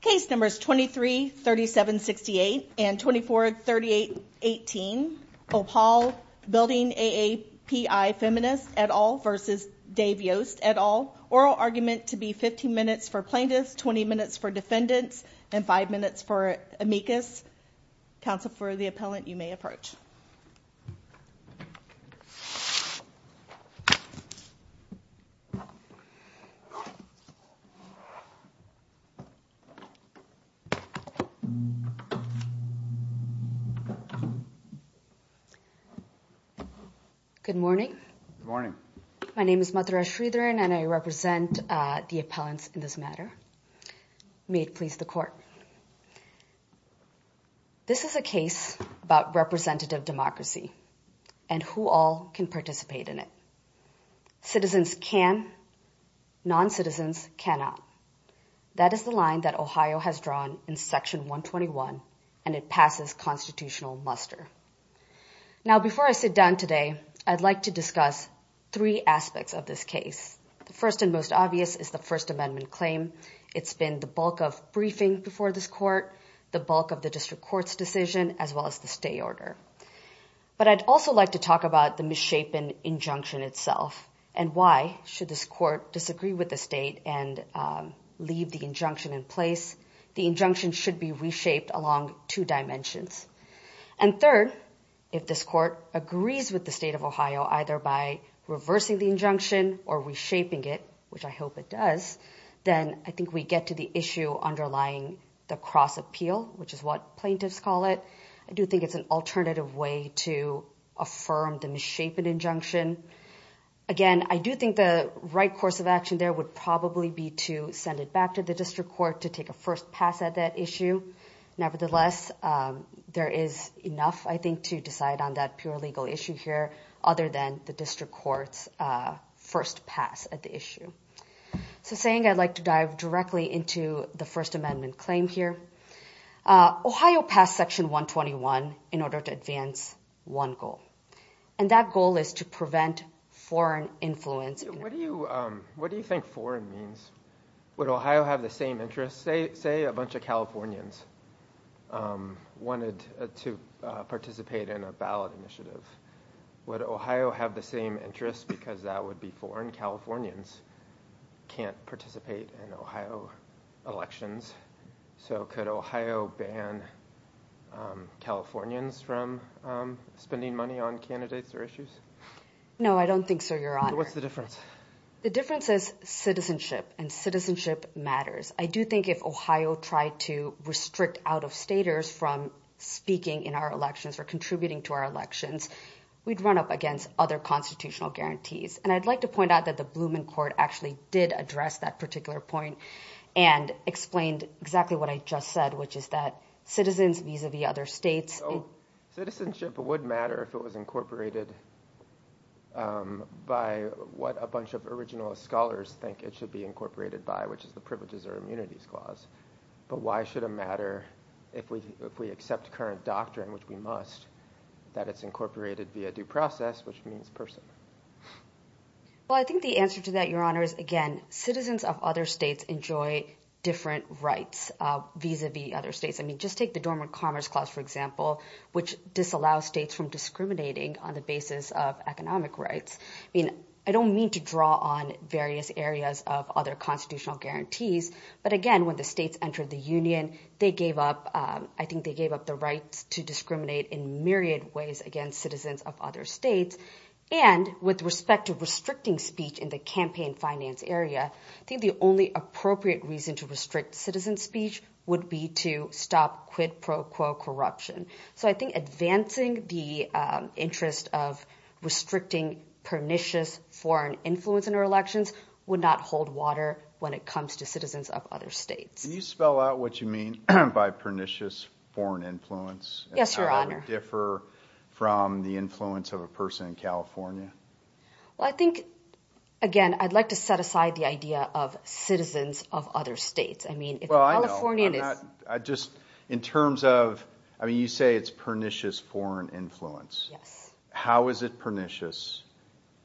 Case numbers 23-37-68 and 24-38-18. OPAWL Building AAPI Feminist at all versus Dave Yost at all. Oral argument to be 15 minutes for plaintiffs, 20 minutes for defendants, and five minutes for amicus. Counsel for the appellant, you may approach. Good morning. My name is Madhura Sridharan and I represent the appellants in this matter. May it please the court. This is a case about representative democracy and who all can participate in it. Citizens can, non-citizens cannot. That is the line that Ohio has drawn in section 121 and it passes constitutional muster. Now, before I sit down today, I'd like to discuss three aspects of this case. The first and most obvious is the first amendment claim. It's been the bulk of briefing before this court, the bulk of the district court's decision, as well as the stay order. But I'd also like to talk about the misshapen injunction itself and why should this court disagree with the state and leave the injunction in place? The injunction should be reshaped along two dimensions. And third, if this court agrees with the state of Ohio, either by reversing the injunction or reshaping it, which I hope it does, then I think we get to underlying the cross appeal, which is what plaintiffs call it. I do think it's an alternative way to affirm the misshapen injunction. Again, I do think the right course of action there would probably be to send it back to the district court to take a first pass at that issue. Nevertheless, there is enough, I think, to decide on that pure legal issue here, other than the district court's first pass at the issue. So saying I'd like to dive directly into the First Amendment claim here. Ohio passed Section 121 in order to advance one goal. And that goal is to prevent foreign influence. What do you think foreign means? Would Ohio have the same interest? Say a bunch of Californians wanted to participate in a ballot initiative. Would Ohio have the same interest because that would be foreign? Californians can't participate in Ohio elections. So could Ohio ban Californians from spending money on candidates or issues? No, I don't think so, Your Honor. What's the difference? The difference is citizenship and citizenship matters. I do think if Ohio tried to restrict out of staters from speaking in our elections or contributing to our elections, we'd run up against other constitutional guarantees. And I'd like to point out that the Blumen Court actually did address that particular point and explained exactly what I just said, which is that citizens vis-a-vis other states. So citizenship, it wouldn't matter if it was incorporated by what a bunch of original scholars think it should be incorporated by, which is the Privileges or Immunities Clause. But why should it matter if we accept current doctrine, which we must, that it's incorporated via due process, which means person? Well, I think the answer to that, Your Honor, is again, citizens of other states enjoy different rights vis-a-vis other states. I mean, just take the Dormant Commerce Clause, for example, which disallows states from discriminating on the basis of economic rights. I mean, I don't mean to draw on various areas of other constitutional guarantees. But again, when the states entered the union, I think they gave up the rights to discriminate in myriad ways against citizens of other states. And with respect to restricting speech in the campaign finance area, I think the only appropriate reason to restrict citizen speech would be to stop quid pro quo corruption. So I think advancing the interest of restricting pernicious foreign influence in our elections would not hold water when it comes to citizens of other states. Can you spell out what you mean by pernicious foreign influence? Yes, Your Honor. And how it would differ from the influence of a person in California? Well, I think, again, I'd like to set aside the idea of citizens of other states. I mean, if a Californian is... Well, I know. I'm not, I just, in terms of, I mean, you say it's pernicious foreign influence. Yes. How is it pernicious?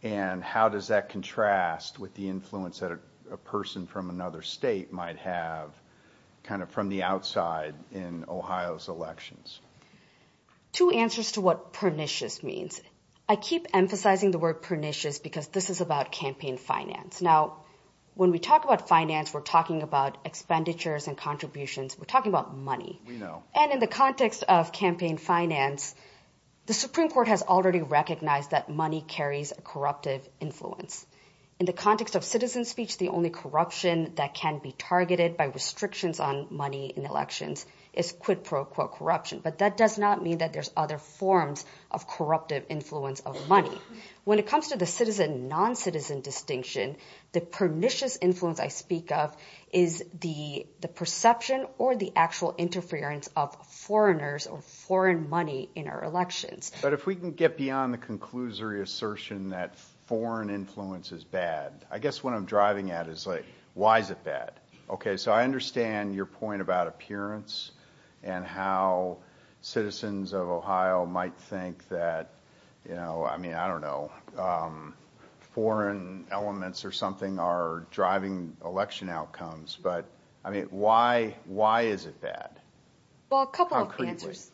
And how does that contrast with the influence that a person from another state might have kind of from the outside in Ohio's elections? Two answers to what pernicious means. I keep emphasizing the word pernicious because this is about campaign finance. Now, when we talk about finance, we're talking about expenditures and contributions. We're talking about money. We know. And in the context of campaign finance, the Supreme Court has already recognized that money corruption that can be targeted by restrictions on money in elections is quid pro quo corruption. But that does not mean that there's other forms of corruptive influence of money. When it comes to the citizen, non-citizen distinction, the pernicious influence I speak of is the perception or the actual interference of foreigners or foreign money in our elections. But if we can get beyond the conclusory assertion that foreign influence is bad, I guess what I'm driving at is like, why is it bad? Okay. So I understand your point about appearance and how citizens of Ohio might think that, you know, I mean, I don't know. Foreign elements or something are driving election outcomes. But I mean, why is it bad? Well, a couple of answers.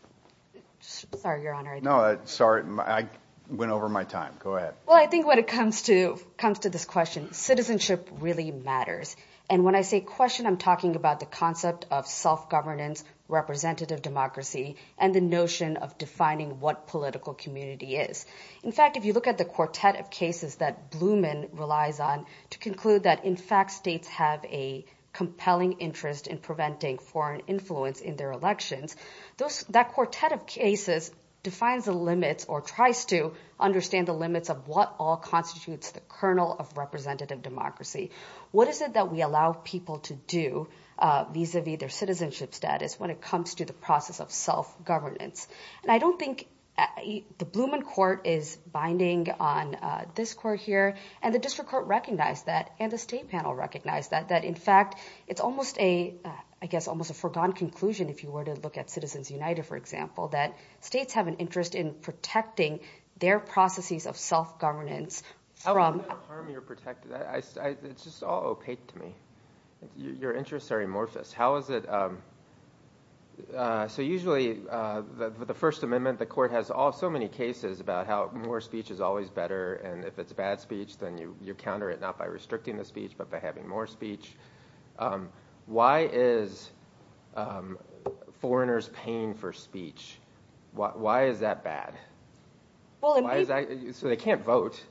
Sorry, Your Honor. No, sorry. I went over my time. Go ahead. Well, I think when it comes to this question, citizenship really matters. And when I say question, I'm talking about the concept of self-governance, representative democracy, and the notion of defining what political community is. In fact, if you look at the quartet of cases that Blumen relies on to conclude that, in fact, states have a compelling interest in preventing foreign influence in their elections, that quartet of cases defines the limits or tries to understand the limits of what all constitutes the kernel of representative democracy. What is it that we allow people to do vis-a-vis their citizenship status when it comes to the process of self-governance? And I don't think the Blumen court is binding on this court here. And the district court recognized that. And the state panel recognized that, that, in fact, it's almost a, I guess, if you were to look at Citizens United, for example, that states have an interest in protecting their processes of self-governance from- I don't want to harm your protected. It's just all opaque to me. Your interests are amorphous. How is it, so usually, the First Amendment, the court has so many cases about how more speech is always better. And if it's bad speech, then you counter it, not by restricting the speech, but by having more speech. Why is foreigners paying for speech? Why is that bad? So they can't vote.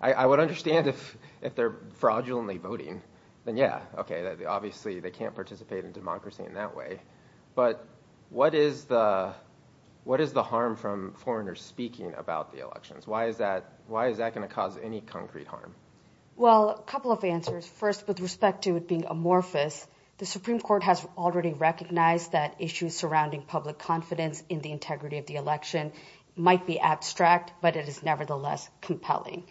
I would understand if they're fraudulently voting, then yeah, okay, obviously, they can't participate in democracy in that way. But what is the harm from foreigners speaking about the elections? Why is that going to cause any concrete harm? Well, a couple of answers. First, with respect to it being amorphous, the Supreme Court has already recognized that issues surrounding public confidence in the integrity of the election might be abstract, but it is nevertheless compelling.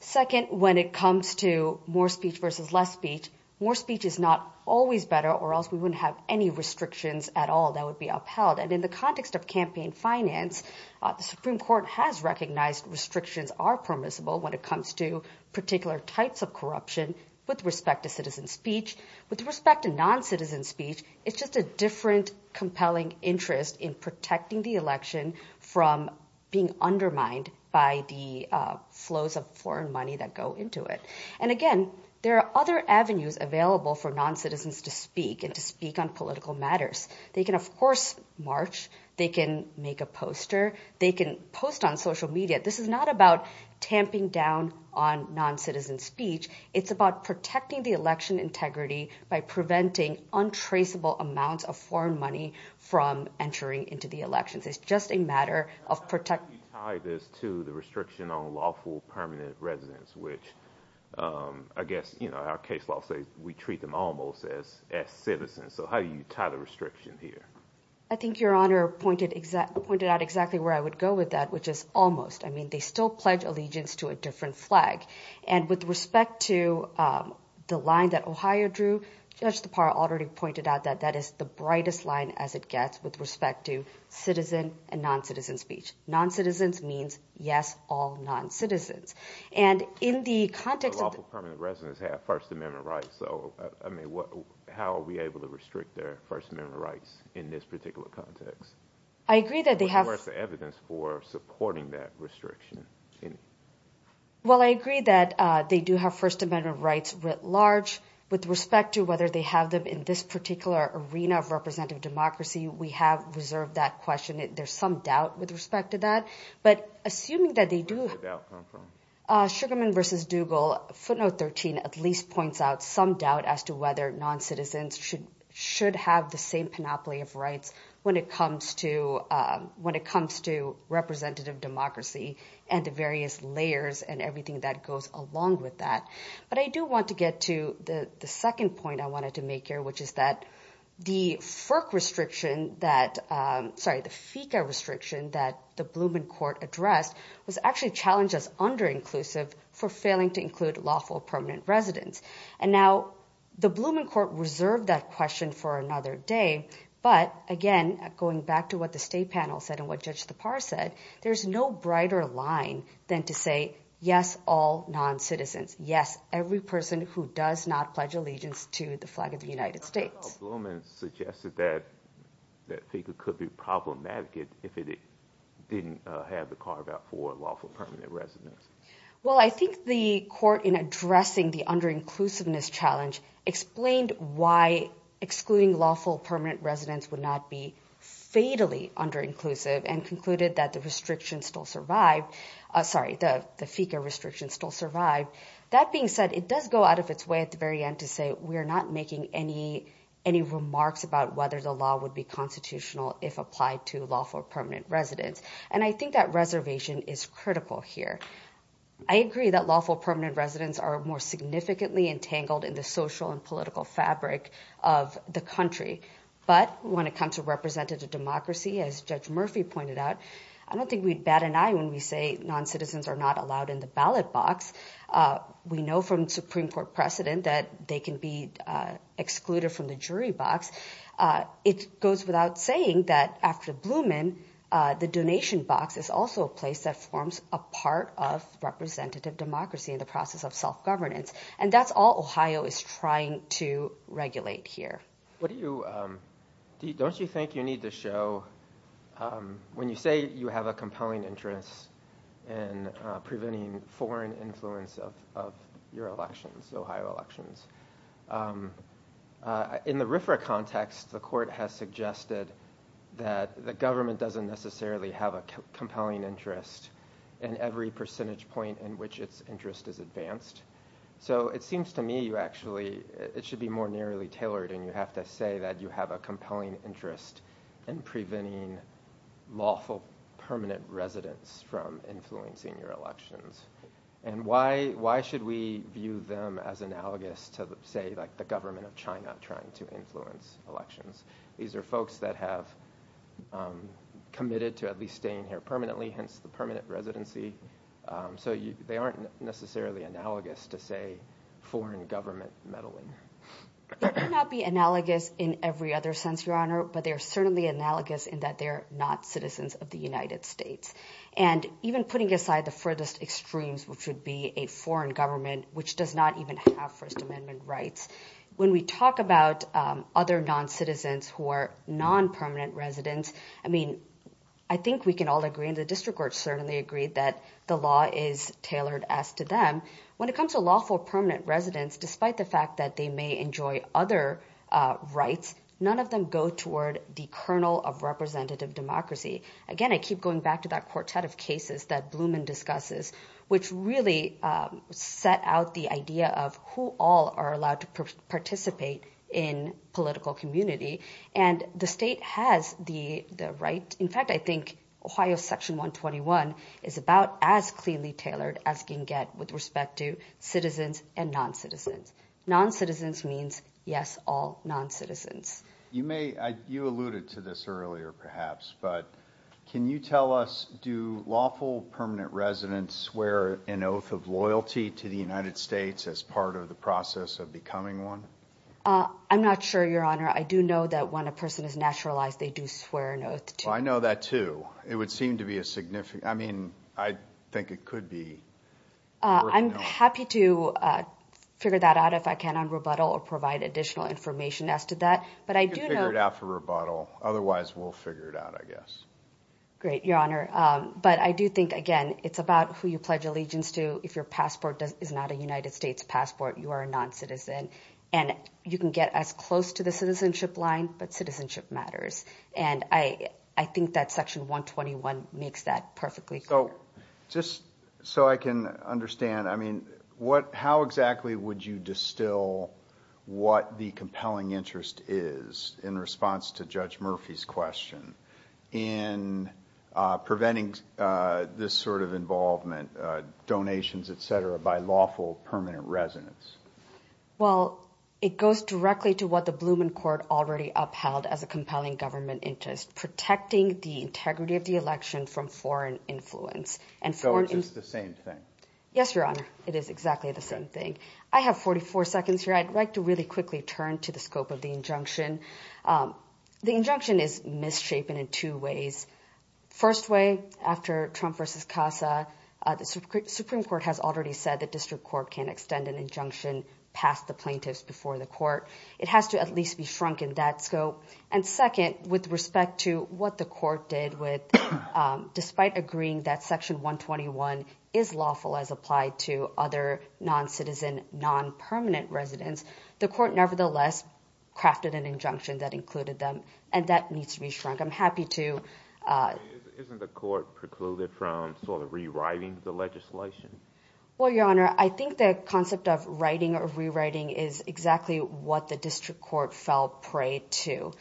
Second, when it comes to more speech versus less speech, more speech is not always better or else we wouldn't have any restrictions at all that would be upheld. And in the context of campaign finance, the Supreme Court has recognized restrictions are permissible when it comes to particular types of corruption with respect to citizen speech. With respect to non-citizen speech, it's just a different compelling interest in protecting the election from being undermined by the flows of foreign money that go into it. And again, there are other avenues available for non-citizens to speak and to speak on political matters. They can, of course, march. They can make a poster. They can post on social media. This is not about tamping down on non-citizen speech. It's about protecting the election integrity by preventing untraceable amounts of foreign money from entering into the elections. It's just a matter of protecting... How do you tie this to the restriction on lawful permanent residence, which, I guess, you know, our case law says we treat them almost as citizens. So how do you tie the restriction here? I think Your Honor pointed out exactly where I would go with that, which is almost. They still pledge allegiance to a different flag. And with respect to the line that Ohio drew, Judge Tappara already pointed out that that is the brightest line as it gets with respect to citizen and non-citizen speech. Non-citizens means, yes, all non-citizens. And in the context of... But lawful permanent residents have First Amendment rights. So, I mean, how are we able to restrict their First Amendment rights in this particular context? I agree that they have... Well, I agree that they do have First Amendment rights writ large. With respect to whether they have them in this particular arena of representative democracy, we have reserved that question. There's some doubt with respect to that. But assuming that they do... Where does the doubt come from? Sugarman v. Dougal, footnote 13, at least points out some doubt as to whether non-citizens should have the same panoply of rights when it comes to representative democracy and the various layers and everything that goes along with that. But I do want to get to the second point I wanted to make here, which is that the FERC restriction that... Sorry, the FECA restriction that the Blumen Court addressed was actually challenged as under-inclusive for failing to include lawful permanent residents. And now the Blumen Court reserved that question for another day. But again, going back to what the state panel said and what Judge Tappar said, there's no brighter line than to say, yes, all non-citizens. Yes, every person who does not pledge allegiance to the flag of the United States. Blumen suggested that FECA could be problematic if it didn't have the carve-out for lawful permanent residents. Well, I think the court in addressing the under-inclusiveness challenge explained why excluding lawful permanent residents would not be fatally under-inclusive and concluded that the restriction still survived. Sorry, the FECA restriction still survived. That being said, it does go out of its way at the very end to say we're not making any remarks about whether the law would be constitutional if applied to lawful permanent residents. And I think that reservation is critical here. I agree that lawful permanent residents are more significantly entangled in the social and political fabric of the country. But when it comes to representative democracy, as Judge Murphy pointed out, I don't think we'd bat an eye when we say non-citizens are not allowed in the ballot box. We know from Supreme Court precedent that they can be excluded from the jury box. It goes without saying that after Blumen, the donation box is also a place that forms a part of representative democracy in the process of self-governance. And that's all Ohio is trying to regulate here. Don't you think you need to show, when you say you have a compelling interest in preventing foreign influence of your elections, Ohio elections, in the RFRA context, the court has suggested that the government doesn't necessarily have a compelling interest in every percentage point in which its interest is advanced. So it seems to me you actually, it should be more nearly tailored and you have to say that you have a compelling interest in preventing lawful permanent residents from influencing your elections. And why should we view them as analogous to, say, like the government of China trying to influence elections? These are folks that have committed to at least staying here permanently, hence the permanent residency. So they aren't necessarily analogous to, say, foreign government meddling. It may not be analogous in every other sense, Your Honor, but they are certainly analogous in that they're not citizens of the United States. And even putting aside the furthest extremes, which would be a foreign government, which does not even have First Amendment rights. When we talk about other non-citizens who are non-permanent residents, I mean, I think we can all agree and the district court certainly agreed that the law is tailored as to them. When it comes to lawful permanent residents, despite the fact that they may enjoy other rights, none of them go toward the kernel of representative democracy. Again, I keep going back to that quartet of cases that Blumen discusses, which really set out the idea of who all are allowed to participate in political community. And the state has the right. In fact, I think Ohio Section 121 is about as cleanly tailored as can get with respect to citizens and non-citizens. Non-citizens means, yes, all non-citizens. You alluded to this earlier, perhaps, but can you tell us, do lawful permanent residents swear an oath of loyalty to the United States as part of the process of becoming one? I'm not sure, Your Honor. I do know that when a person is naturalized, they do swear an oath. I know that too. It would seem to be a significant... I mean, I think it could be. I'm happy to figure that out if I can on rebuttal or provide additional information as to that. But I do know... You can figure it out for rebuttal. Otherwise, we'll figure it out, I guess. Great, Your Honor. But I do think, again, it's about who you pledge allegiance to. If your passport is not a United States passport, you are a non-citizen. And you can get as close to the citizenship line, but citizenship matters. And I think that Section 121 makes that perfectly clear. So just so I can understand, I mean, how exactly would you distill what the compelling interest is in response to Judge Murphy's question in preventing this sort of involvement, donations, et cetera, by lawful permanent residents? Well, it goes directly to what the Blumen Court already upheld as a compelling government interest, protecting the integrity of the election from foreign influence. So it's just the same thing? Yes, Your Honor. It is exactly the same thing. I have 44 seconds here. I'd like to really quickly turn to the scope of the injunction. The injunction is misshapen in two ways. First way, after Trump v. Casa, the Supreme Court has already said that district court can't extend an injunction past the plaintiffs before the court. It has to at least be shrunk in that scope. And second, with respect to what the court did with, despite agreeing that Section 121 is lawful as applied to other non-citizen, non-permanent residents, the court nevertheless crafted an injunction that included them, and that needs to be shrunk. I'm happy to... Isn't the court precluded from sort of rewriting the legislation? Well, Your Honor, I think the concept of writing or rewriting is exactly what the district court fell prey to.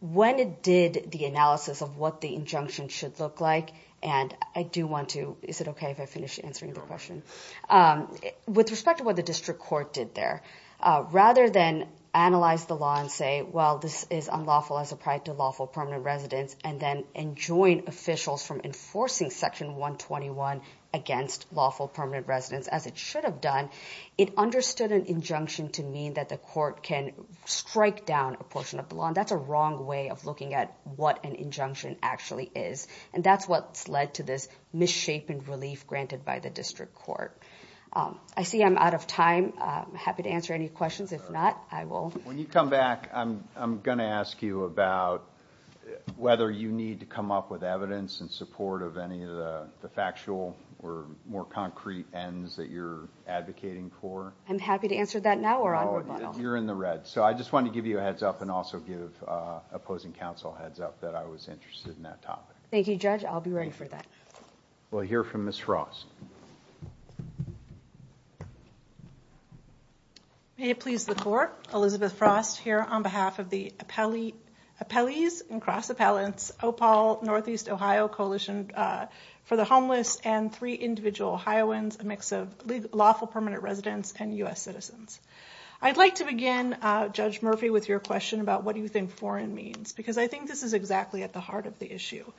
When it did the analysis of what the injunction should look like, and I do want to... Is it okay if I finish answering the question? With respect to what the district court did there, rather than analyze the law and say, well, this is unlawful as applied to lawful permanent residents, and then enjoin officials from enforcing Section 121 against lawful permanent residents, as it should have done, it understood an injunction to mean that the court can strike down a portion of the law. And that's a wrong way of looking at what an injunction actually is. And that's what's led to this misshapen relief granted by the district court. I see I'm out of time. I'm happy to answer any questions. If not, I will... When you come back, I'm going to ask you about whether you need to come up with evidence in support of any of the factual or more concrete ends that you're advocating for. I'm happy to answer that now or on rebuttal. You're in the red. So I just wanted to give you a heads up and also give opposing counsel a heads up that I was interested in that topic. Thank you, Judge. I'll be ready for that. We'll hear from Ms. Frost. May it please the court, Elizabeth Frost here on behalf of the Appellees and Cross Appellants, Opal, Northeast Ohio Coalition for the Homeless, and three individual Ohioans, a mix of lawful permanent residents and US citizens. I'd like to begin, Judge Murphy, with your question about what do you think foreign means? Because I think this is exactly at the heart of the issue.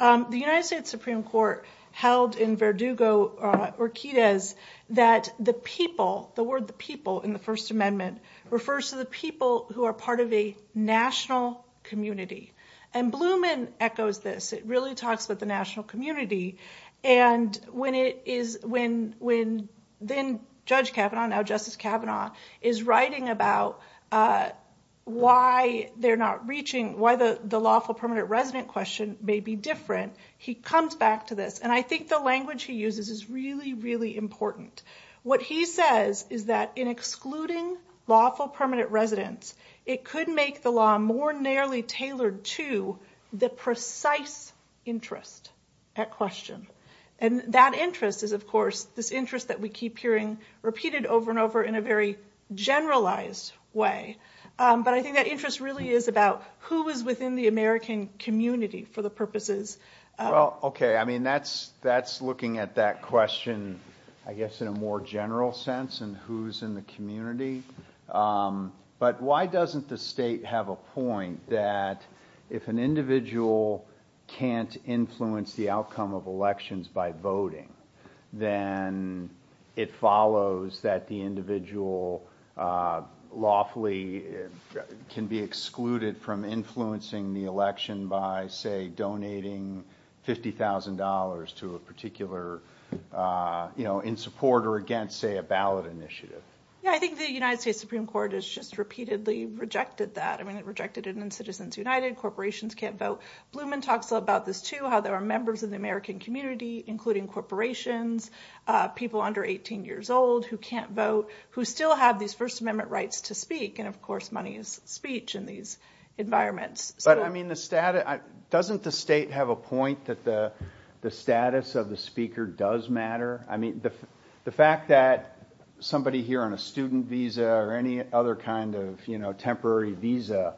The United States Supreme Court held in Verdugo or Quides that the people, the word the people in the First Amendment refers to the people who are part of a national community. And Blumen echoes this. It really talks about the national community. And when then Judge Kavanaugh, now Justice Kavanaugh, is writing about why they're not the lawful permanent resident question may be different, he comes back to this. And I think the language he uses is really, really important. What he says is that in excluding lawful permanent residents, it could make the law more narrowly tailored to the precise interest at question. And that interest is, of course, this interest that we keep hearing repeated over and over in a very generalized way. But I think that interest really is about who is within the American community for the purposes. Well, OK, I mean, that's looking at that question, I guess, in a more general sense and who's in the community. But why doesn't the state have a point that if an individual can't influence the outcome of elections by voting, then it follows that the individual lawfully can be excluded from influencing the election by, say, donating $50,000 to a particular, you know, in support or against, say, a ballot initiative? Yeah, I think the United States Supreme Court has just repeatedly rejected that. I mean, it rejected it in Citizens United. Corporations can't vote. Blumen talks about this, too, how there are members of the American community, including corporations, people under 18 years old who can't vote, who still have these First Amendment rights to speak. And, of course, money is speech in these environments. But, I mean, doesn't the state have a point that the status of the speaker does matter? I mean, the fact that somebody here on a student visa or any other kind of, you know, temporary visa,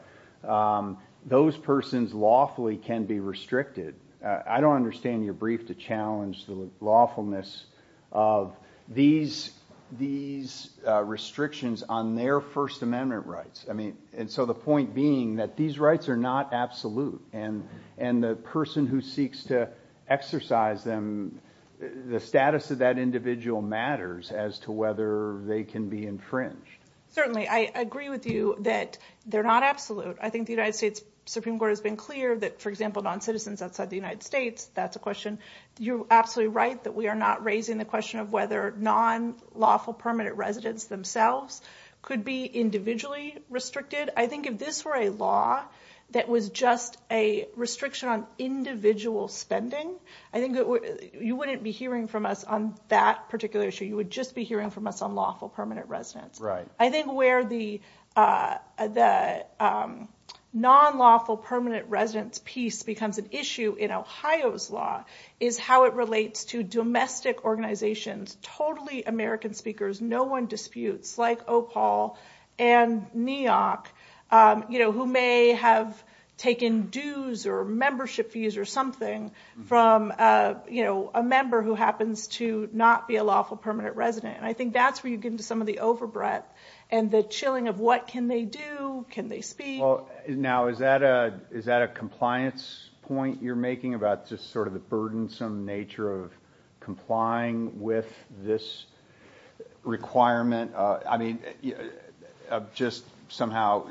those persons lawfully can be restricted. I don't understand your brief to challenge the lawfulness of these restrictions on their First Amendment rights. I mean, and so the point being that these rights are not absolute. And the person who seeks to exercise them, the status of that individual matters as to whether they can be infringed. Certainly. I agree with you that they're not absolute. I think the United States Supreme Court has been clear that, for example, non-citizens outside the United States, that's a question. You're absolutely right that we are not raising the question of whether non-lawful permanent residents themselves could be individually restricted. I think if this were a law that was just a restriction on individual spending, I think you wouldn't be hearing from us on that particular issue. You would just be hearing from us on lawful permanent residents. Right. I think where the non-lawful permanent residence piece becomes an issue in Ohio's law is how it relates to domestic organizations, totally American speakers, no one disputes, like OPAL and NEOC, you know, who may have taken dues or membership fees or something from, you know, a member who happens to not be a lawful permanent resident. I think that's where you get into some of the overbreath and the chilling of what can they do? Can they speak? Now, is that a compliance point you're making about just sort of the burdensome nature of complying with this requirement? I mean, just somehow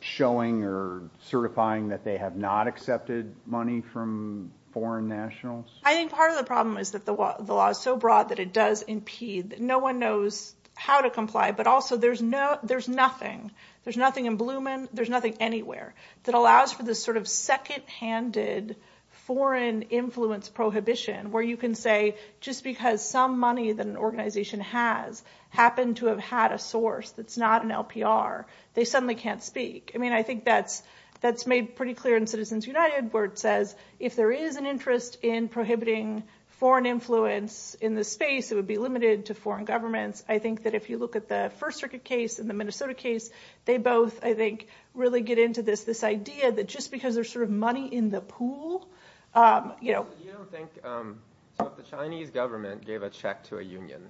showing or certifying that they have not accepted money from foreign nationals? I think part of the problem is that the law is so broad that it does impede no one knows how to comply. But also there's nothing, there's nothing in Blumen, there's nothing anywhere that allows for this sort of second-handed foreign influence prohibition where you can say, just because some money that an organization has happened to have had a source that's not an LPR, they suddenly can't speak. I mean, I think that's made pretty clear in Citizens United where it says, if there is an interest in prohibiting foreign influence in the space, it would be limited to foreign governments. I think that if you look at the First Circuit case and the Minnesota case, they both, I think, really get into this, this idea that just because there's sort of money in the pool, you know. But you don't think, so if the Chinese government gave a check to a union,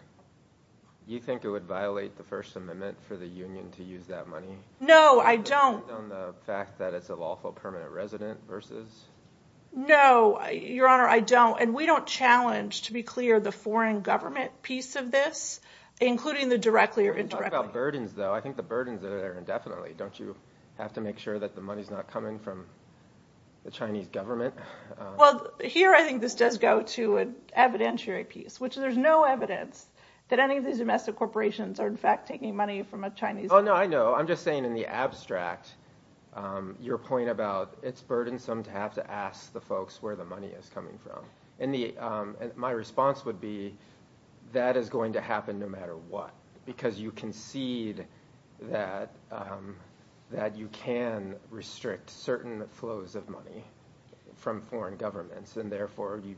you think it would violate the First Amendment for the union to use that money? No, I don't. On the fact that it's a lawful permanent resident versus? No, Your Honor, I don't. And we don't challenge, to be clear, the foreign government piece of this, including the directly or indirectly. When you talk about burdens, though, I think the burdens are there indefinitely. Don't you have to make sure that the money's not coming from the Chinese government? Well, here I think this does go to an evidentiary piece, which there's no evidence that any of these domestic corporations are, in fact, taking money from a Chinese government. Oh, no, I know. I'm just saying in the abstract, your point about it's burdensome to have to ask the folks where the money is coming from. And my response would be, that is going to happen no matter what. Because you concede that you can restrict certain flows of money from foreign governments. And therefore, you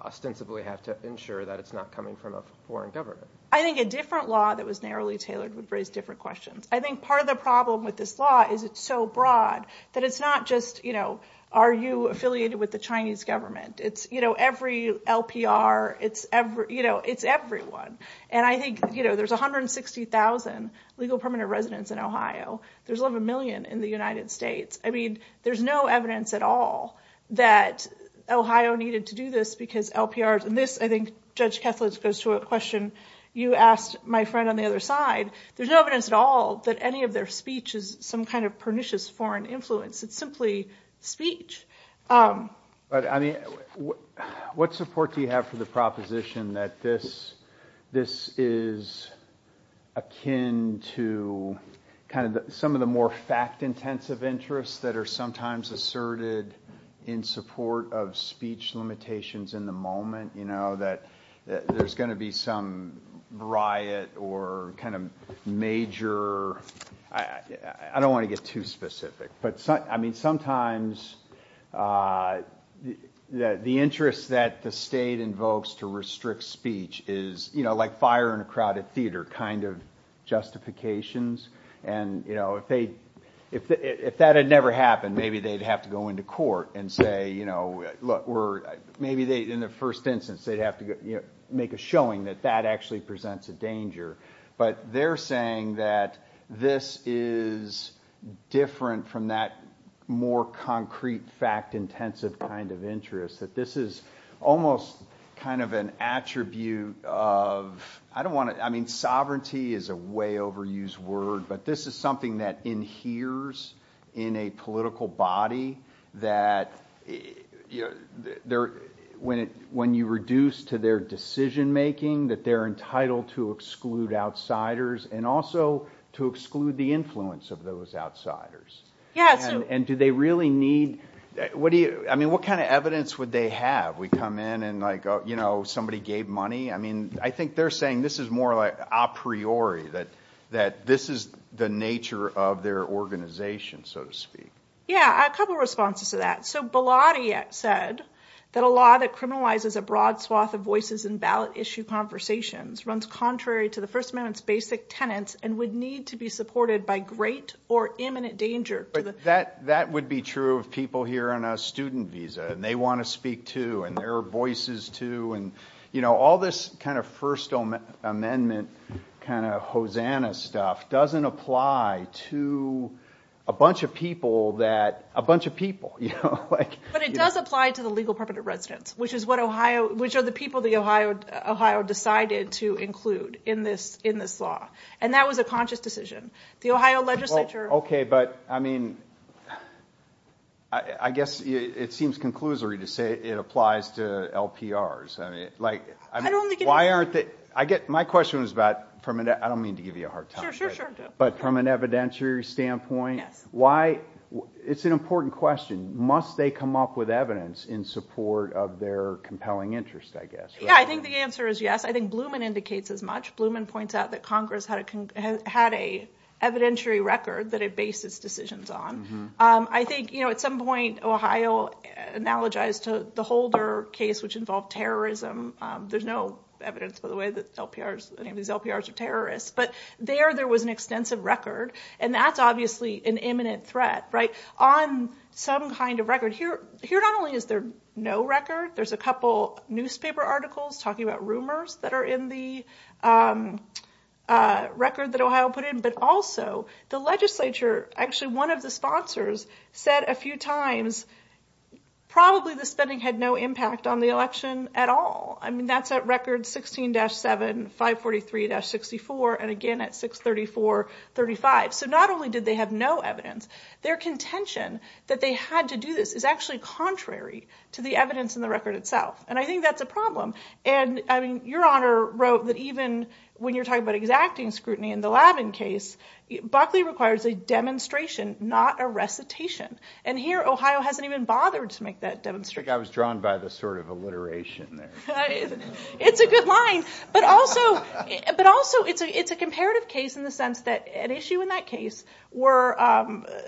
ostensibly have to ensure that it's not coming from a foreign government. I think a different law that was narrowly tailored would raise different questions. I think part of the problem with this law is it's so broad that it's not just, you know, are you affiliated with the Chinese government? It's every LPR, it's everyone. And I think there's 160,000 legal permanent residents in Ohio. There's 11 million in the United States. I mean, there's no evidence at all that Ohio needed to do this because LPRs. And this, I think, Judge Kessler, goes to a question you asked my friend on the other side. There's no evidence at all that any of their speech is some kind of pernicious foreign influence. It's simply speech. But I mean, what support do you have for the proposition that this is akin to kind of some of the more fact-intensive interests that are sometimes asserted in support of speech limitations in the moment? You know, that there's going to be some riot or kind of major, I don't want to get too specific, but I mean, sometimes the interest that the state invokes to restrict speech is, you know, like fire in a crowded theater kind of justifications. And, you know, if that had never happened, maybe they'd have to go into court and say, you know, maybe in the first instance they'd have to make a showing that that actually presents a danger. But they're saying that this is different from that more concrete, fact-intensive kind of interest, that this is almost kind of an attribute of, I don't want to, I mean, sovereignty is a way overused word, but this is something that inheres in a political body that when you reduce to their decision-making, that they're entitled to exclude outsiders and also to exclude the influence of those outsiders. And do they really need, what do you, I mean, what kind of evidence would they have? We come in and like, you know, somebody gave money. I mean, I think they're saying this is more like a priori, that this is the nature of their organization, so to speak. Yeah, a couple of responses to that. So Belotti said that a law that criminalizes a broad swath of voices in ballot issue conversations runs contrary to the First Amendment's basic tenets and would need to be supported by great or imminent danger. That would be true of people here on a student visa, and they want to speak too, and their voices too. And, you know, all this kind of First Amendment kind of Hosanna stuff doesn't apply to a bunch of people that, a bunch of people. But it does apply to the legal permanent residents, which are the people that Ohio decided to include in this law. And that was a conscious decision. The Ohio legislature... Okay, but I mean, I guess it seems conclusory to say it applies to LPRs. My question is about, I don't mean to give you a hard time, but from an evidentiary standpoint, it's an important question. Must they come up with evidence in support of their compelling interest, I guess? Yeah, I think the answer is yes. I think Blumen indicates as much. Blumen points out that Congress had a evidentiary record that it based its decisions on. I think, you know, at some point Ohio analogized to the Holder case, which involved terrorism. There's no evidence, by the way, that LPRs, any of these LPRs are terrorists. But there, there was an extensive record. And that's obviously an imminent threat, right? On some kind of record. Here, not only is there no record, there's a couple newspaper articles talking about rumors that are in the record that Ohio put in. But also, the legislature, actually one of the sponsors said a few times, probably the spending had no impact on the election at all. I mean, that's at record 16-7, 543-64, and again at 634-35. So not only did they have no evidence, their contention that they had to do this is actually contrary to the evidence in the record itself. And I think that's a problem. And I mean, Your Honor wrote that even when you're talking about exacting scrutiny in the Labin case, Buckley requires a demonstration, not a recitation. And here, Ohio hasn't even bothered to make that demonstration. I think I was drawn by the sort of alliteration there. It's a good line. But also, it's a comparative case in the sense that an issue in that case where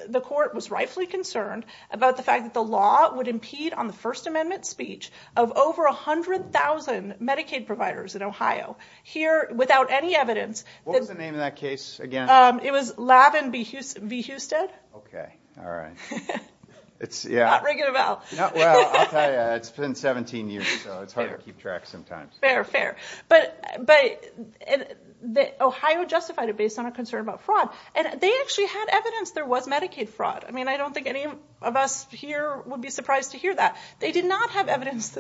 the court was rightfully concerned about the fact that the law would impede on the First Amendment speech of over 100,000 Medicaid providers in Ohio. Here, without any evidence. What was the name of that case again? It was Labin v. Husted. All right. It's, yeah. Not ringing a bell. Well, I'll tell you, it's been 17 years. So it's hard to keep track sometimes. Fair, fair. But Ohio justified it based on a concern about fraud. And they actually had evidence there was Medicaid fraud. I mean, I don't think any of us here would be surprised to hear that. They did not have evidence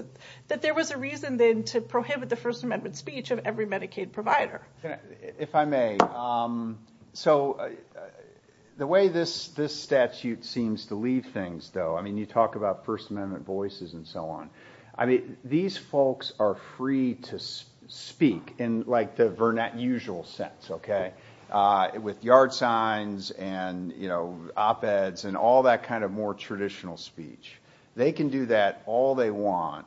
that there was a reason then to prohibit the First Amendment speech of every Medicaid provider. If I may. So the way this statute seems to leave things, though, I mean, you talk about First Amendment voices and so on. I mean, these folks are free to speak in, like, the usual sense, okay? With yard signs and, you know, op-eds and all that kind of more traditional speech. They can do that all they want.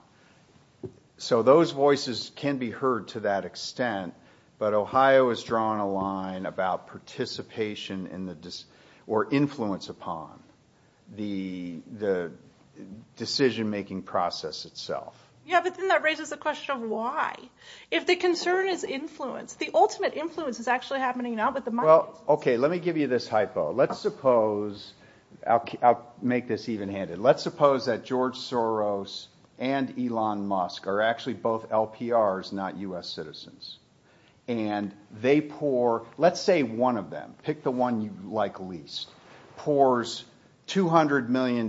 So those voices can be heard to that extent. But Ohio has drawn a line about participation or influence upon the decision-making process itself. Yeah, but then that raises the question of why? If the concern is influence, the ultimate influence is actually happening now with the money. Well, okay. Let me give you this hypo. Let's suppose, I'll make this even-handed. Let's suppose that George Soros and Elon Musk are actually both LPRs, not U.S. citizens. And they pour, let's say one of them, pick the one you like least, pours $200 million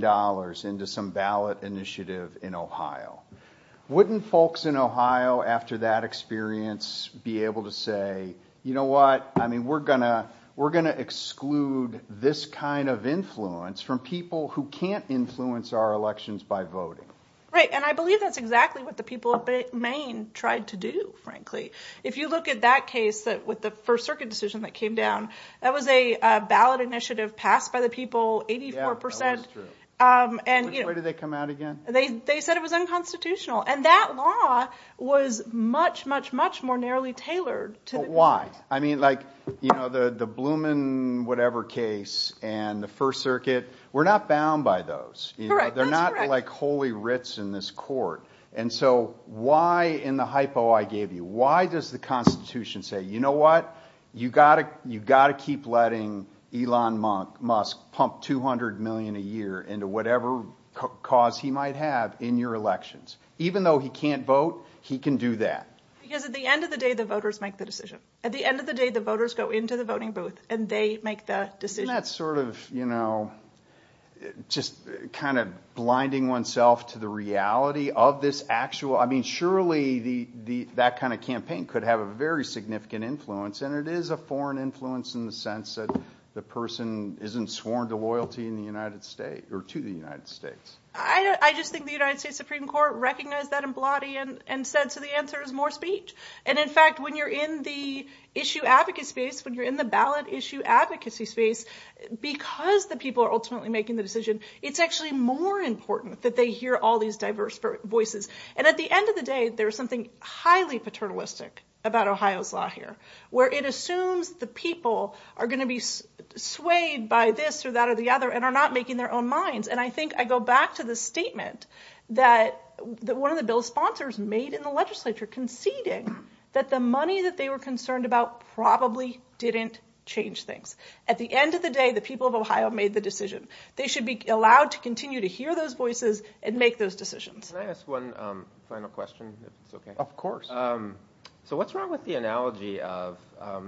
into some ballot initiative in Ohio. Wouldn't folks in Ohio, after that experience, be able to say, you know what? I mean, we're going to exclude this kind of influence from people who can't influence our elections by voting. Right. And I believe that's exactly what the people of Maine tried to do, frankly. If you look at that case with the First Circuit decision that came down, that was a ballot initiative passed by the people, 84%. Yeah, that was true. And you know- Which way did they come out again? They said it was unconstitutional. And that law was much, much, much more narrowly tailored to- Why? I mean, like, you know, the Blumen whatever case and the First Circuit, we're not bound by those. Correct, that's correct. They're not like holy writs in this court. And so why in the hypo I gave you? Why does the Constitution say, you know what? You've got to keep letting Elon Musk pump 200 million a year into whatever cause he might have in your elections. Even though he can't vote, he can do that. Because at the end of the day, the voters make the decision. At the end of the day, the voters go into the voting booth and they make that decision. Isn't that sort of, you know, just kind of blinding oneself to the reality of this actual- The campaign could have a very significant influence, and it is a foreign influence in the sense that the person isn't sworn to loyalty in the United States- Or to the United States. I just think the United States Supreme Court recognized that and said, so the answer is more speech. And in fact, when you're in the issue advocacy space, when you're in the ballot issue advocacy space, because the people are ultimately making the decision, it's actually more important that they hear all these diverse voices. And at the end of the day, there's something highly paternalistic about Ohio's law here, where it assumes the people are going to be swayed by this or that or the other and are not making their own minds. And I think I go back to the statement that one of the bill's sponsors made in the legislature conceding that the money that they were concerned about probably didn't change things. At the end of the day, the people of Ohio made the decision. They should be allowed to continue to hear those voices and make those decisions. Can I ask one final question, if it's okay? Of course. So what's wrong with the analogy of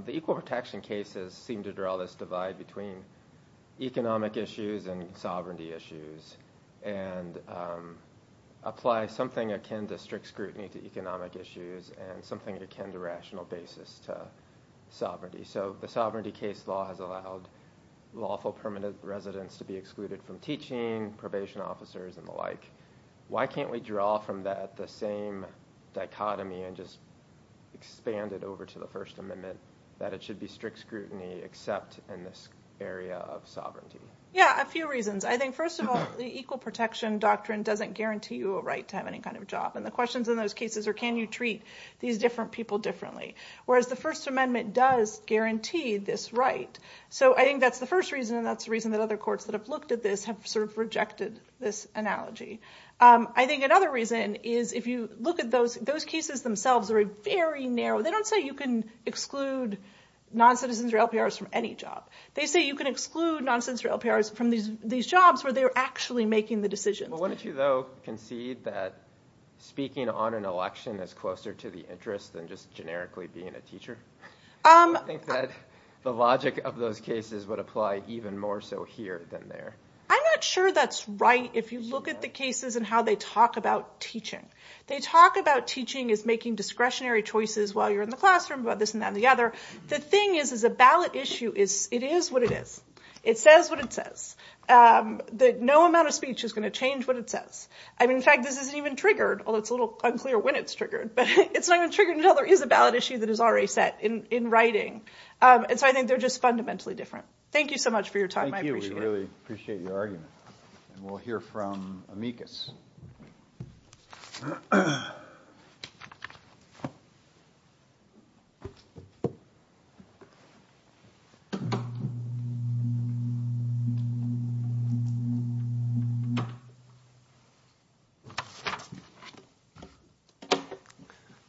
the equal protection cases seem to draw this divide between economic issues and sovereignty issues and apply something akin to strict scrutiny to economic issues and something akin to rational basis to sovereignty. So the sovereignty case law has allowed lawful permanent residents to be excluded from teaching, probation officers and the like. Why can't we draw from that the same dichotomy and just expand it over to the First Amendment, that it should be strict scrutiny except in this area of sovereignty? Yeah, a few reasons. I think, first of all, the equal protection doctrine doesn't guarantee you a right to have any kind of job. And the questions in those cases are, can you treat these different people differently? Whereas the First Amendment does guarantee this right. So I think that's the first reason. And that's the reason that other courts that have looked at this have sort of rejected this analogy. I think another reason is if you look at those cases themselves, they're very narrow. They don't say you can exclude non-citizens or LPRs from any job. They say you can exclude non-citizens or LPRs from these jobs where they're actually making the decisions. Well, wouldn't you, though, concede that speaking on an election is closer to the interest than just generically being a teacher? I think that the logic of those cases would apply even more so here than there. I'm not sure that's right if you look at the cases and how they talk about teaching. They talk about teaching as making discretionary choices while you're in the classroom, about this and that and the other. The thing is, as a ballot issue, it is what it is. It says what it says. No amount of speech is going to change what it says. I mean, in fact, this isn't even triggered, although it's a little unclear when it's triggered. But it's not even triggered until there is a ballot issue that is already set in writing. And so I think they're just fundamentally different. Thank you so much for your time. I appreciate it. We really appreciate your argument. And we'll hear from Amicus.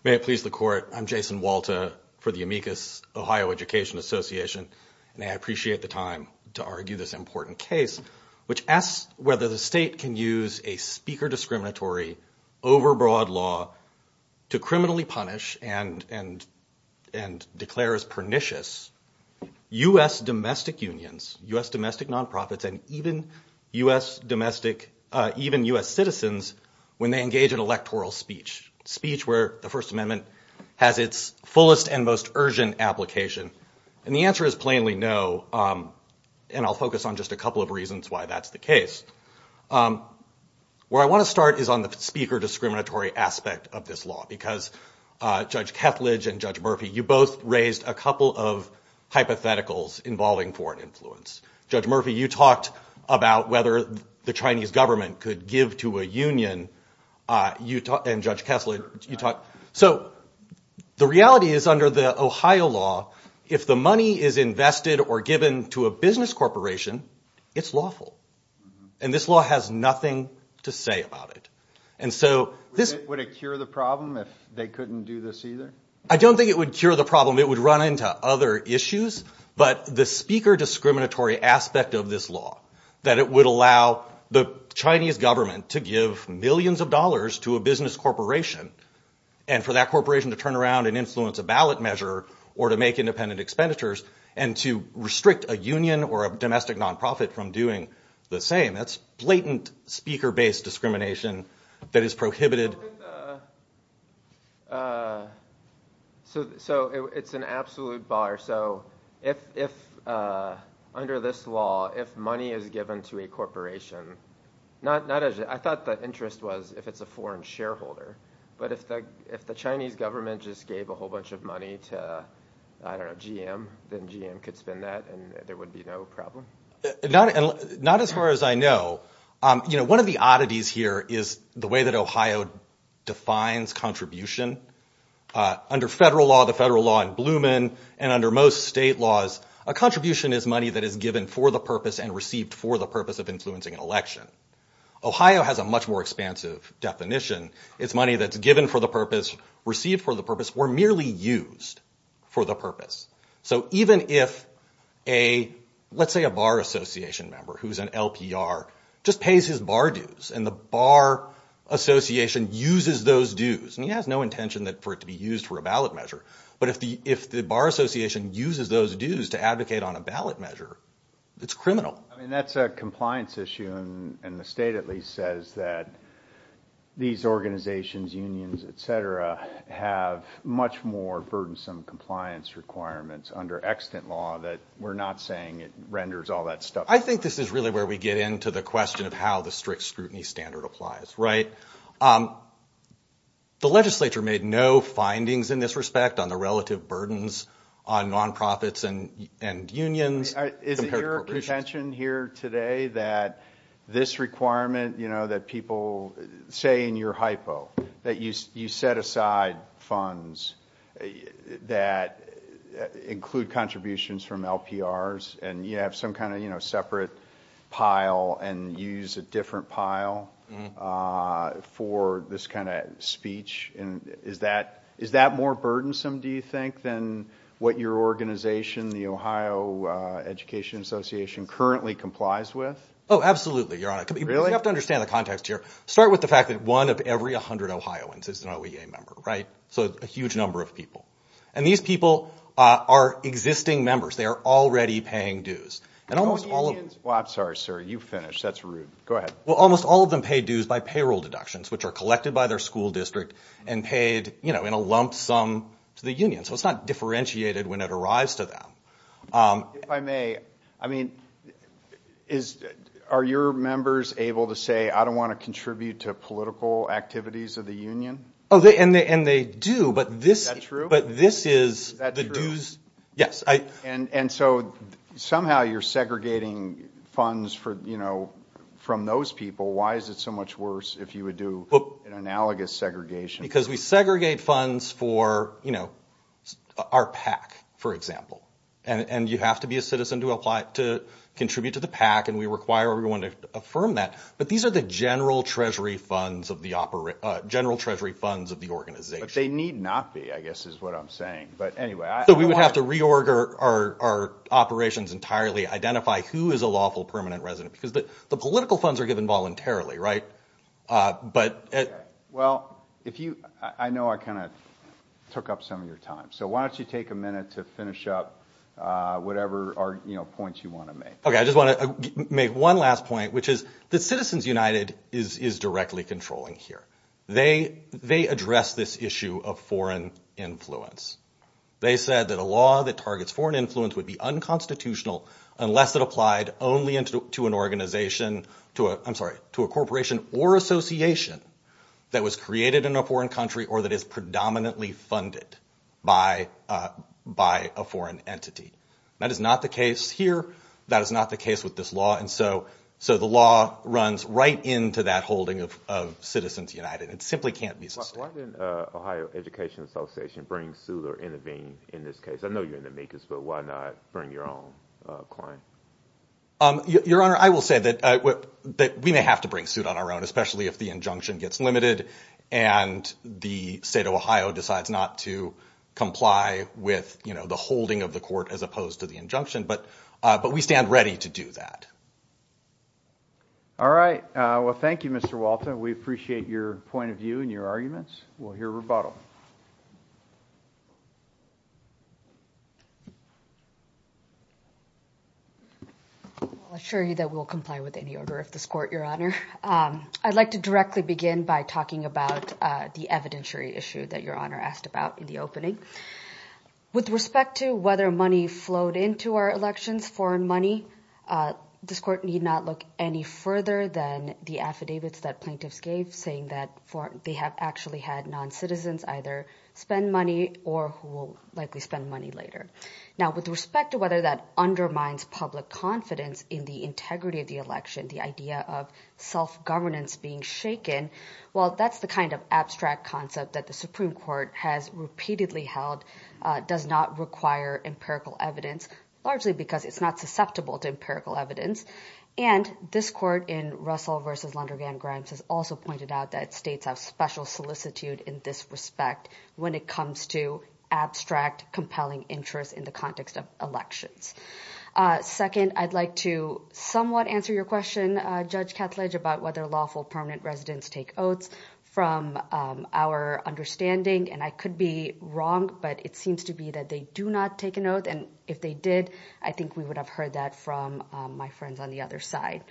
May it please the court. I'm Jason Walta for the Amicus Ohio Education Association. And I appreciate the time to argue this important case, which asks whether the state can use a speaker discriminatory, overbroad law to criminally punish and declare as pernicious U.S. domestic unions, U.S. domestic nonprofits, and even U.S. citizens when they engage in electoral speech, speech where the First Amendment has its fullest and most urgent application. And the answer is plainly no. And I'll focus on just a couple of reasons why that's the case. Where I want to start is on the speaker discriminatory aspect of this law, because Judge Kethledge and Judge Murphy, you both raised a couple of hypotheticals involving foreign influence. Judge Murphy, you talked about whether the Chinese government could give to a union. And Judge Kethledge, you talked. So the reality is under the Ohio law, if the money is invested or given to a business corporation, it's lawful. And this law has nothing to say about it. And so this... Would it cure the problem if they couldn't do this either? I don't think it would cure the problem. It would run into other issues. But the speaker discriminatory aspect of this law, that it would allow the Chinese government to give millions of dollars to a business corporation and for that corporation to turn around and influence a ballot measure or to make independent expenditures and to restrict a union or a domestic nonprofit from doing the same. That's blatant speaker-based discrimination that is prohibited. So it's an absolute bar. So if under this law, if money is given to a corporation, not as... I thought the interest was if it's a foreign shareholder. But if the Chinese government just gave a whole bunch of money to, I don't know, GM, then GM could spend that and there would be no problem? Not as far as I know. One of the oddities here is the way that Ohio defines contribution. Under federal law, the federal law in Blumen and under most state laws, a contribution is money that is given for the purpose and received for the purpose of influencing an election. Ohio has a much more expansive definition. It's money that's given for the purpose, received for the purpose or merely used for the purpose. So even if a, let's say a bar association member who's an LPR, just pays his bar dues and the bar association uses those dues and he has no intention for it to be used for a ballot measure. But if the bar association uses those dues to advocate on a ballot measure, it's criminal. I mean, that's a compliance issue and the state at least says that these organizations, unions, et cetera, have much more burdensome compliance requirements under extant law that we're not saying it renders all that stuff. I think this is really where we get into the question of how the strict scrutiny standard applies, right? The legislature made no findings in this respect on the relative burdens on nonprofits and unions. Is it your contention here today that this requirement, you know, that people say in your hypo, that you set aside funds that include contributions from LPRs and you have some kind of, you know, separate pile and use a different pile for this kind of speech? Is that more burdensome do you think than what your organization, the Ohio Education Association currently complies with? Oh, absolutely. Your Honor, you have to understand the context here. Start with the fact that one of every 100 Ohioans is an OEA member, right? So a huge number of people. And these people are existing members. They are already paying dues. And almost all of them... I'm sorry, sir. You finished. That's rude. Go ahead. Well, almost all of them pay dues by payroll deductions, which are collected by their school district and paid, you know, in a lump sum to the union. So it's not differentiated when it arrives to them. If I may, I mean, are your members able to say, I don't want to contribute to political activities of the union? Oh, and they do. But this... But this is the dues... Yes, I... And so somehow you're segregating funds for, you know, from those people. Why is it so much worse if you would do an analogous segregation? Because we segregate funds for, you know, our PAC, for example. And you have to be a citizen to apply... to contribute to the PAC. And we require everyone to affirm that. But these are the general treasury funds of the... general treasury funds of the organization. But they need not be, I guess, is what I'm saying. But anyway, I... So we would have to reorder our operations entirely, identify who is a lawful permanent resident. Because the political funds are given voluntarily, right? But... Well, if you... I know I kind of took up some of your time. So why don't you take a minute to finish up whatever, you know, points you want to make. Okay, I just want to make one last point, which is that Citizens United is directly controlling here. They address this issue of foreign influence. They said that a law that targets foreign influence would be unconstitutional unless it applied only to an organization, to a... I'm sorry, to a corporation or association. That was created in a foreign country or that is predominantly funded by a foreign entity. That is not the case here. That is not the case with this law. And so the law runs right into that holding of Citizens United. It simply can't be sustained. Why didn't Ohio Education Association bring suit or intervene in this case? I know you're in the MECAS, but why not bring your own claim? Your Honor, I will say that we may have to bring suit on our own, especially if the injunction gets limited and the state of Ohio decides not to comply with, you know, the holding of the court as opposed to the injunction. But we stand ready to do that. All right. Well, thank you, Mr. Walter. We appreciate your point of view and your arguments. We'll hear rebuttal. I'll assure you that we'll comply with any order of this court, Your Honor. I'd like to directly begin by talking about the evidentiary issue that Your Honor asked about in the opening. With respect to whether money flowed into our elections, foreign money, this court need not look any further than the affidavits that plaintiffs gave saying that they have actually had non-citizens either spend money or who will likely spend money later. Now, with respect to whether that undermines public confidence in the integrity of the election, the idea of self-governance being shaken, well, that's the kind of abstract concept that the Supreme Court has repeatedly held does not require empirical evidence, largely because it's not susceptible to empirical evidence. And this court in Russell v. Lonergan-Grimes has also pointed out that states have special solicitude in this respect when it comes to abstract, compelling interest in the context of elections. Second, I'd like to somewhat answer your question, Judge Kethledge, about whether lawful permanent residents take oaths from our understanding. And I could be wrong, but it seems to be that they do not take an oath. And if they did, I think we would have heard that from my friends on the other side.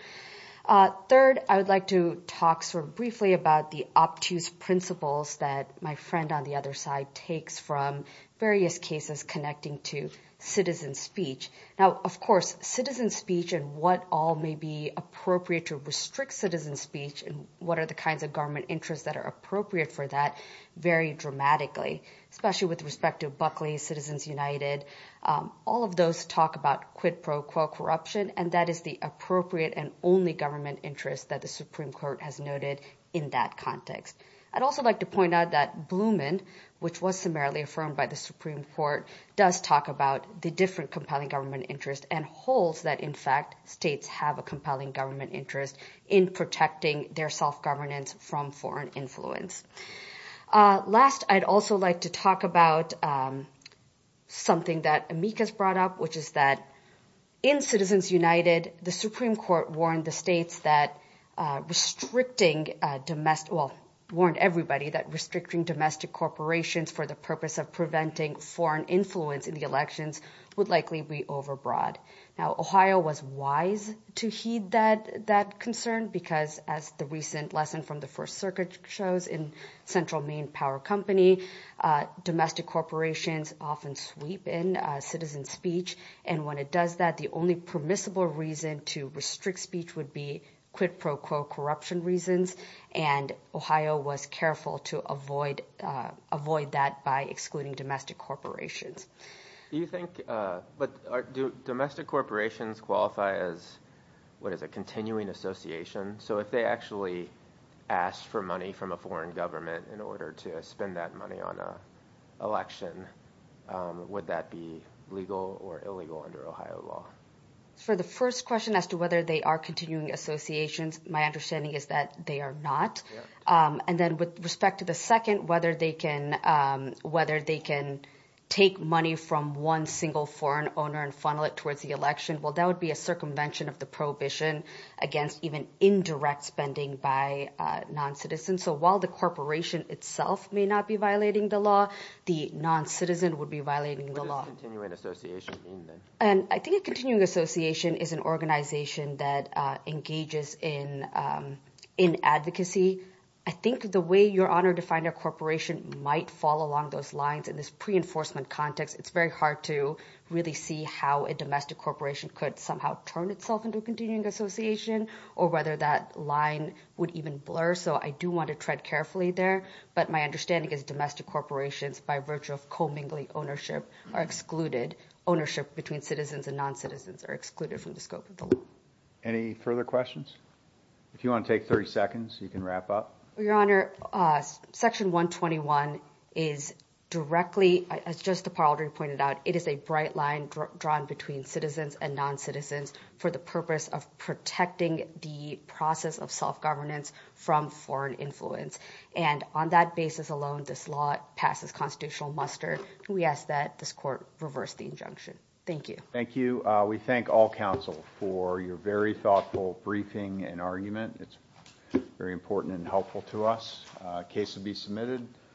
Third, I would like to talk sort of briefly about the obtuse principles that my friend on the other side takes from various cases connecting to citizen speech. Now, of course, citizen speech and what all may be appropriate to restrict citizen speech and what are the kinds of government interests that are appropriate for that vary dramatically, especially with respect to Buckley, Citizens United. All of those talk about quid pro quo corruption, and that is the appropriate and only government interest that the Supreme Court has noted in that context. I'd also like to point out that Blumen, which was summarily affirmed by the Supreme Court, does talk about the different compelling government interest and holds that, in fact, states have a compelling government interest in protecting their self-governance from foreign influence. Last, I'd also like to talk about something that Amicus brought up, which is that in Citizens United, Amicus warned everybody that restricting domestic corporations for the purpose of preventing foreign influence in the elections would likely be overbroad. Now, Ohio was wise to heed that concern because, as the recent lesson from the First Circuit shows in Central Maine Power Company, domestic corporations often sweep in citizen speech, and when it does that, the only permissible reason to restrict speech would be quid pro quo corruption reasons. And Ohio was careful to avoid that by excluding domestic corporations. Do you think, but do domestic corporations qualify as, what is it, continuing associations? So if they actually asked for money from a foreign government in order to spend that money on an election, would that be legal or illegal under Ohio law? For the first question as to whether they are continuing associations, my understanding is that they are not. And then with respect to the second, whether they can take money from one single foreign owner and funnel it towards the election, well, that would be a circumvention of the prohibition against even indirect spending by non-citizens. So while the corporation itself may not be violating the law, the non-citizen would be violating the law. What does continuing association mean, then? And I think a continuing association is an organization that engages in advocacy. I think the way you're honored to find a corporation might fall along those lines in this pre-enforcement context. It's very hard to really see how a domestic corporation could somehow turn itself into a continuing association or whether that line would even blur. So I do want to tread carefully there. But my understanding is domestic corporations, by virtue of co-mingling ownership, are excluded ownership between citizens and non-citizens are excluded from the scope of the law. Any further questions? If you want to take 30 seconds, you can wrap up. Well, Your Honor, Section 121 is directly, as Justice DePauldry pointed out, it is a bright line drawn between citizens and non-citizens for the purpose of protecting the process of self-governance from foreign influence. And on that basis alone, this law passes constitutional muster. We ask that this court reverse the injunction. Thank you. Thank you. We thank all counsel for your very thoughtful briefing and argument. It's very important and helpful to us. Case to be submitted.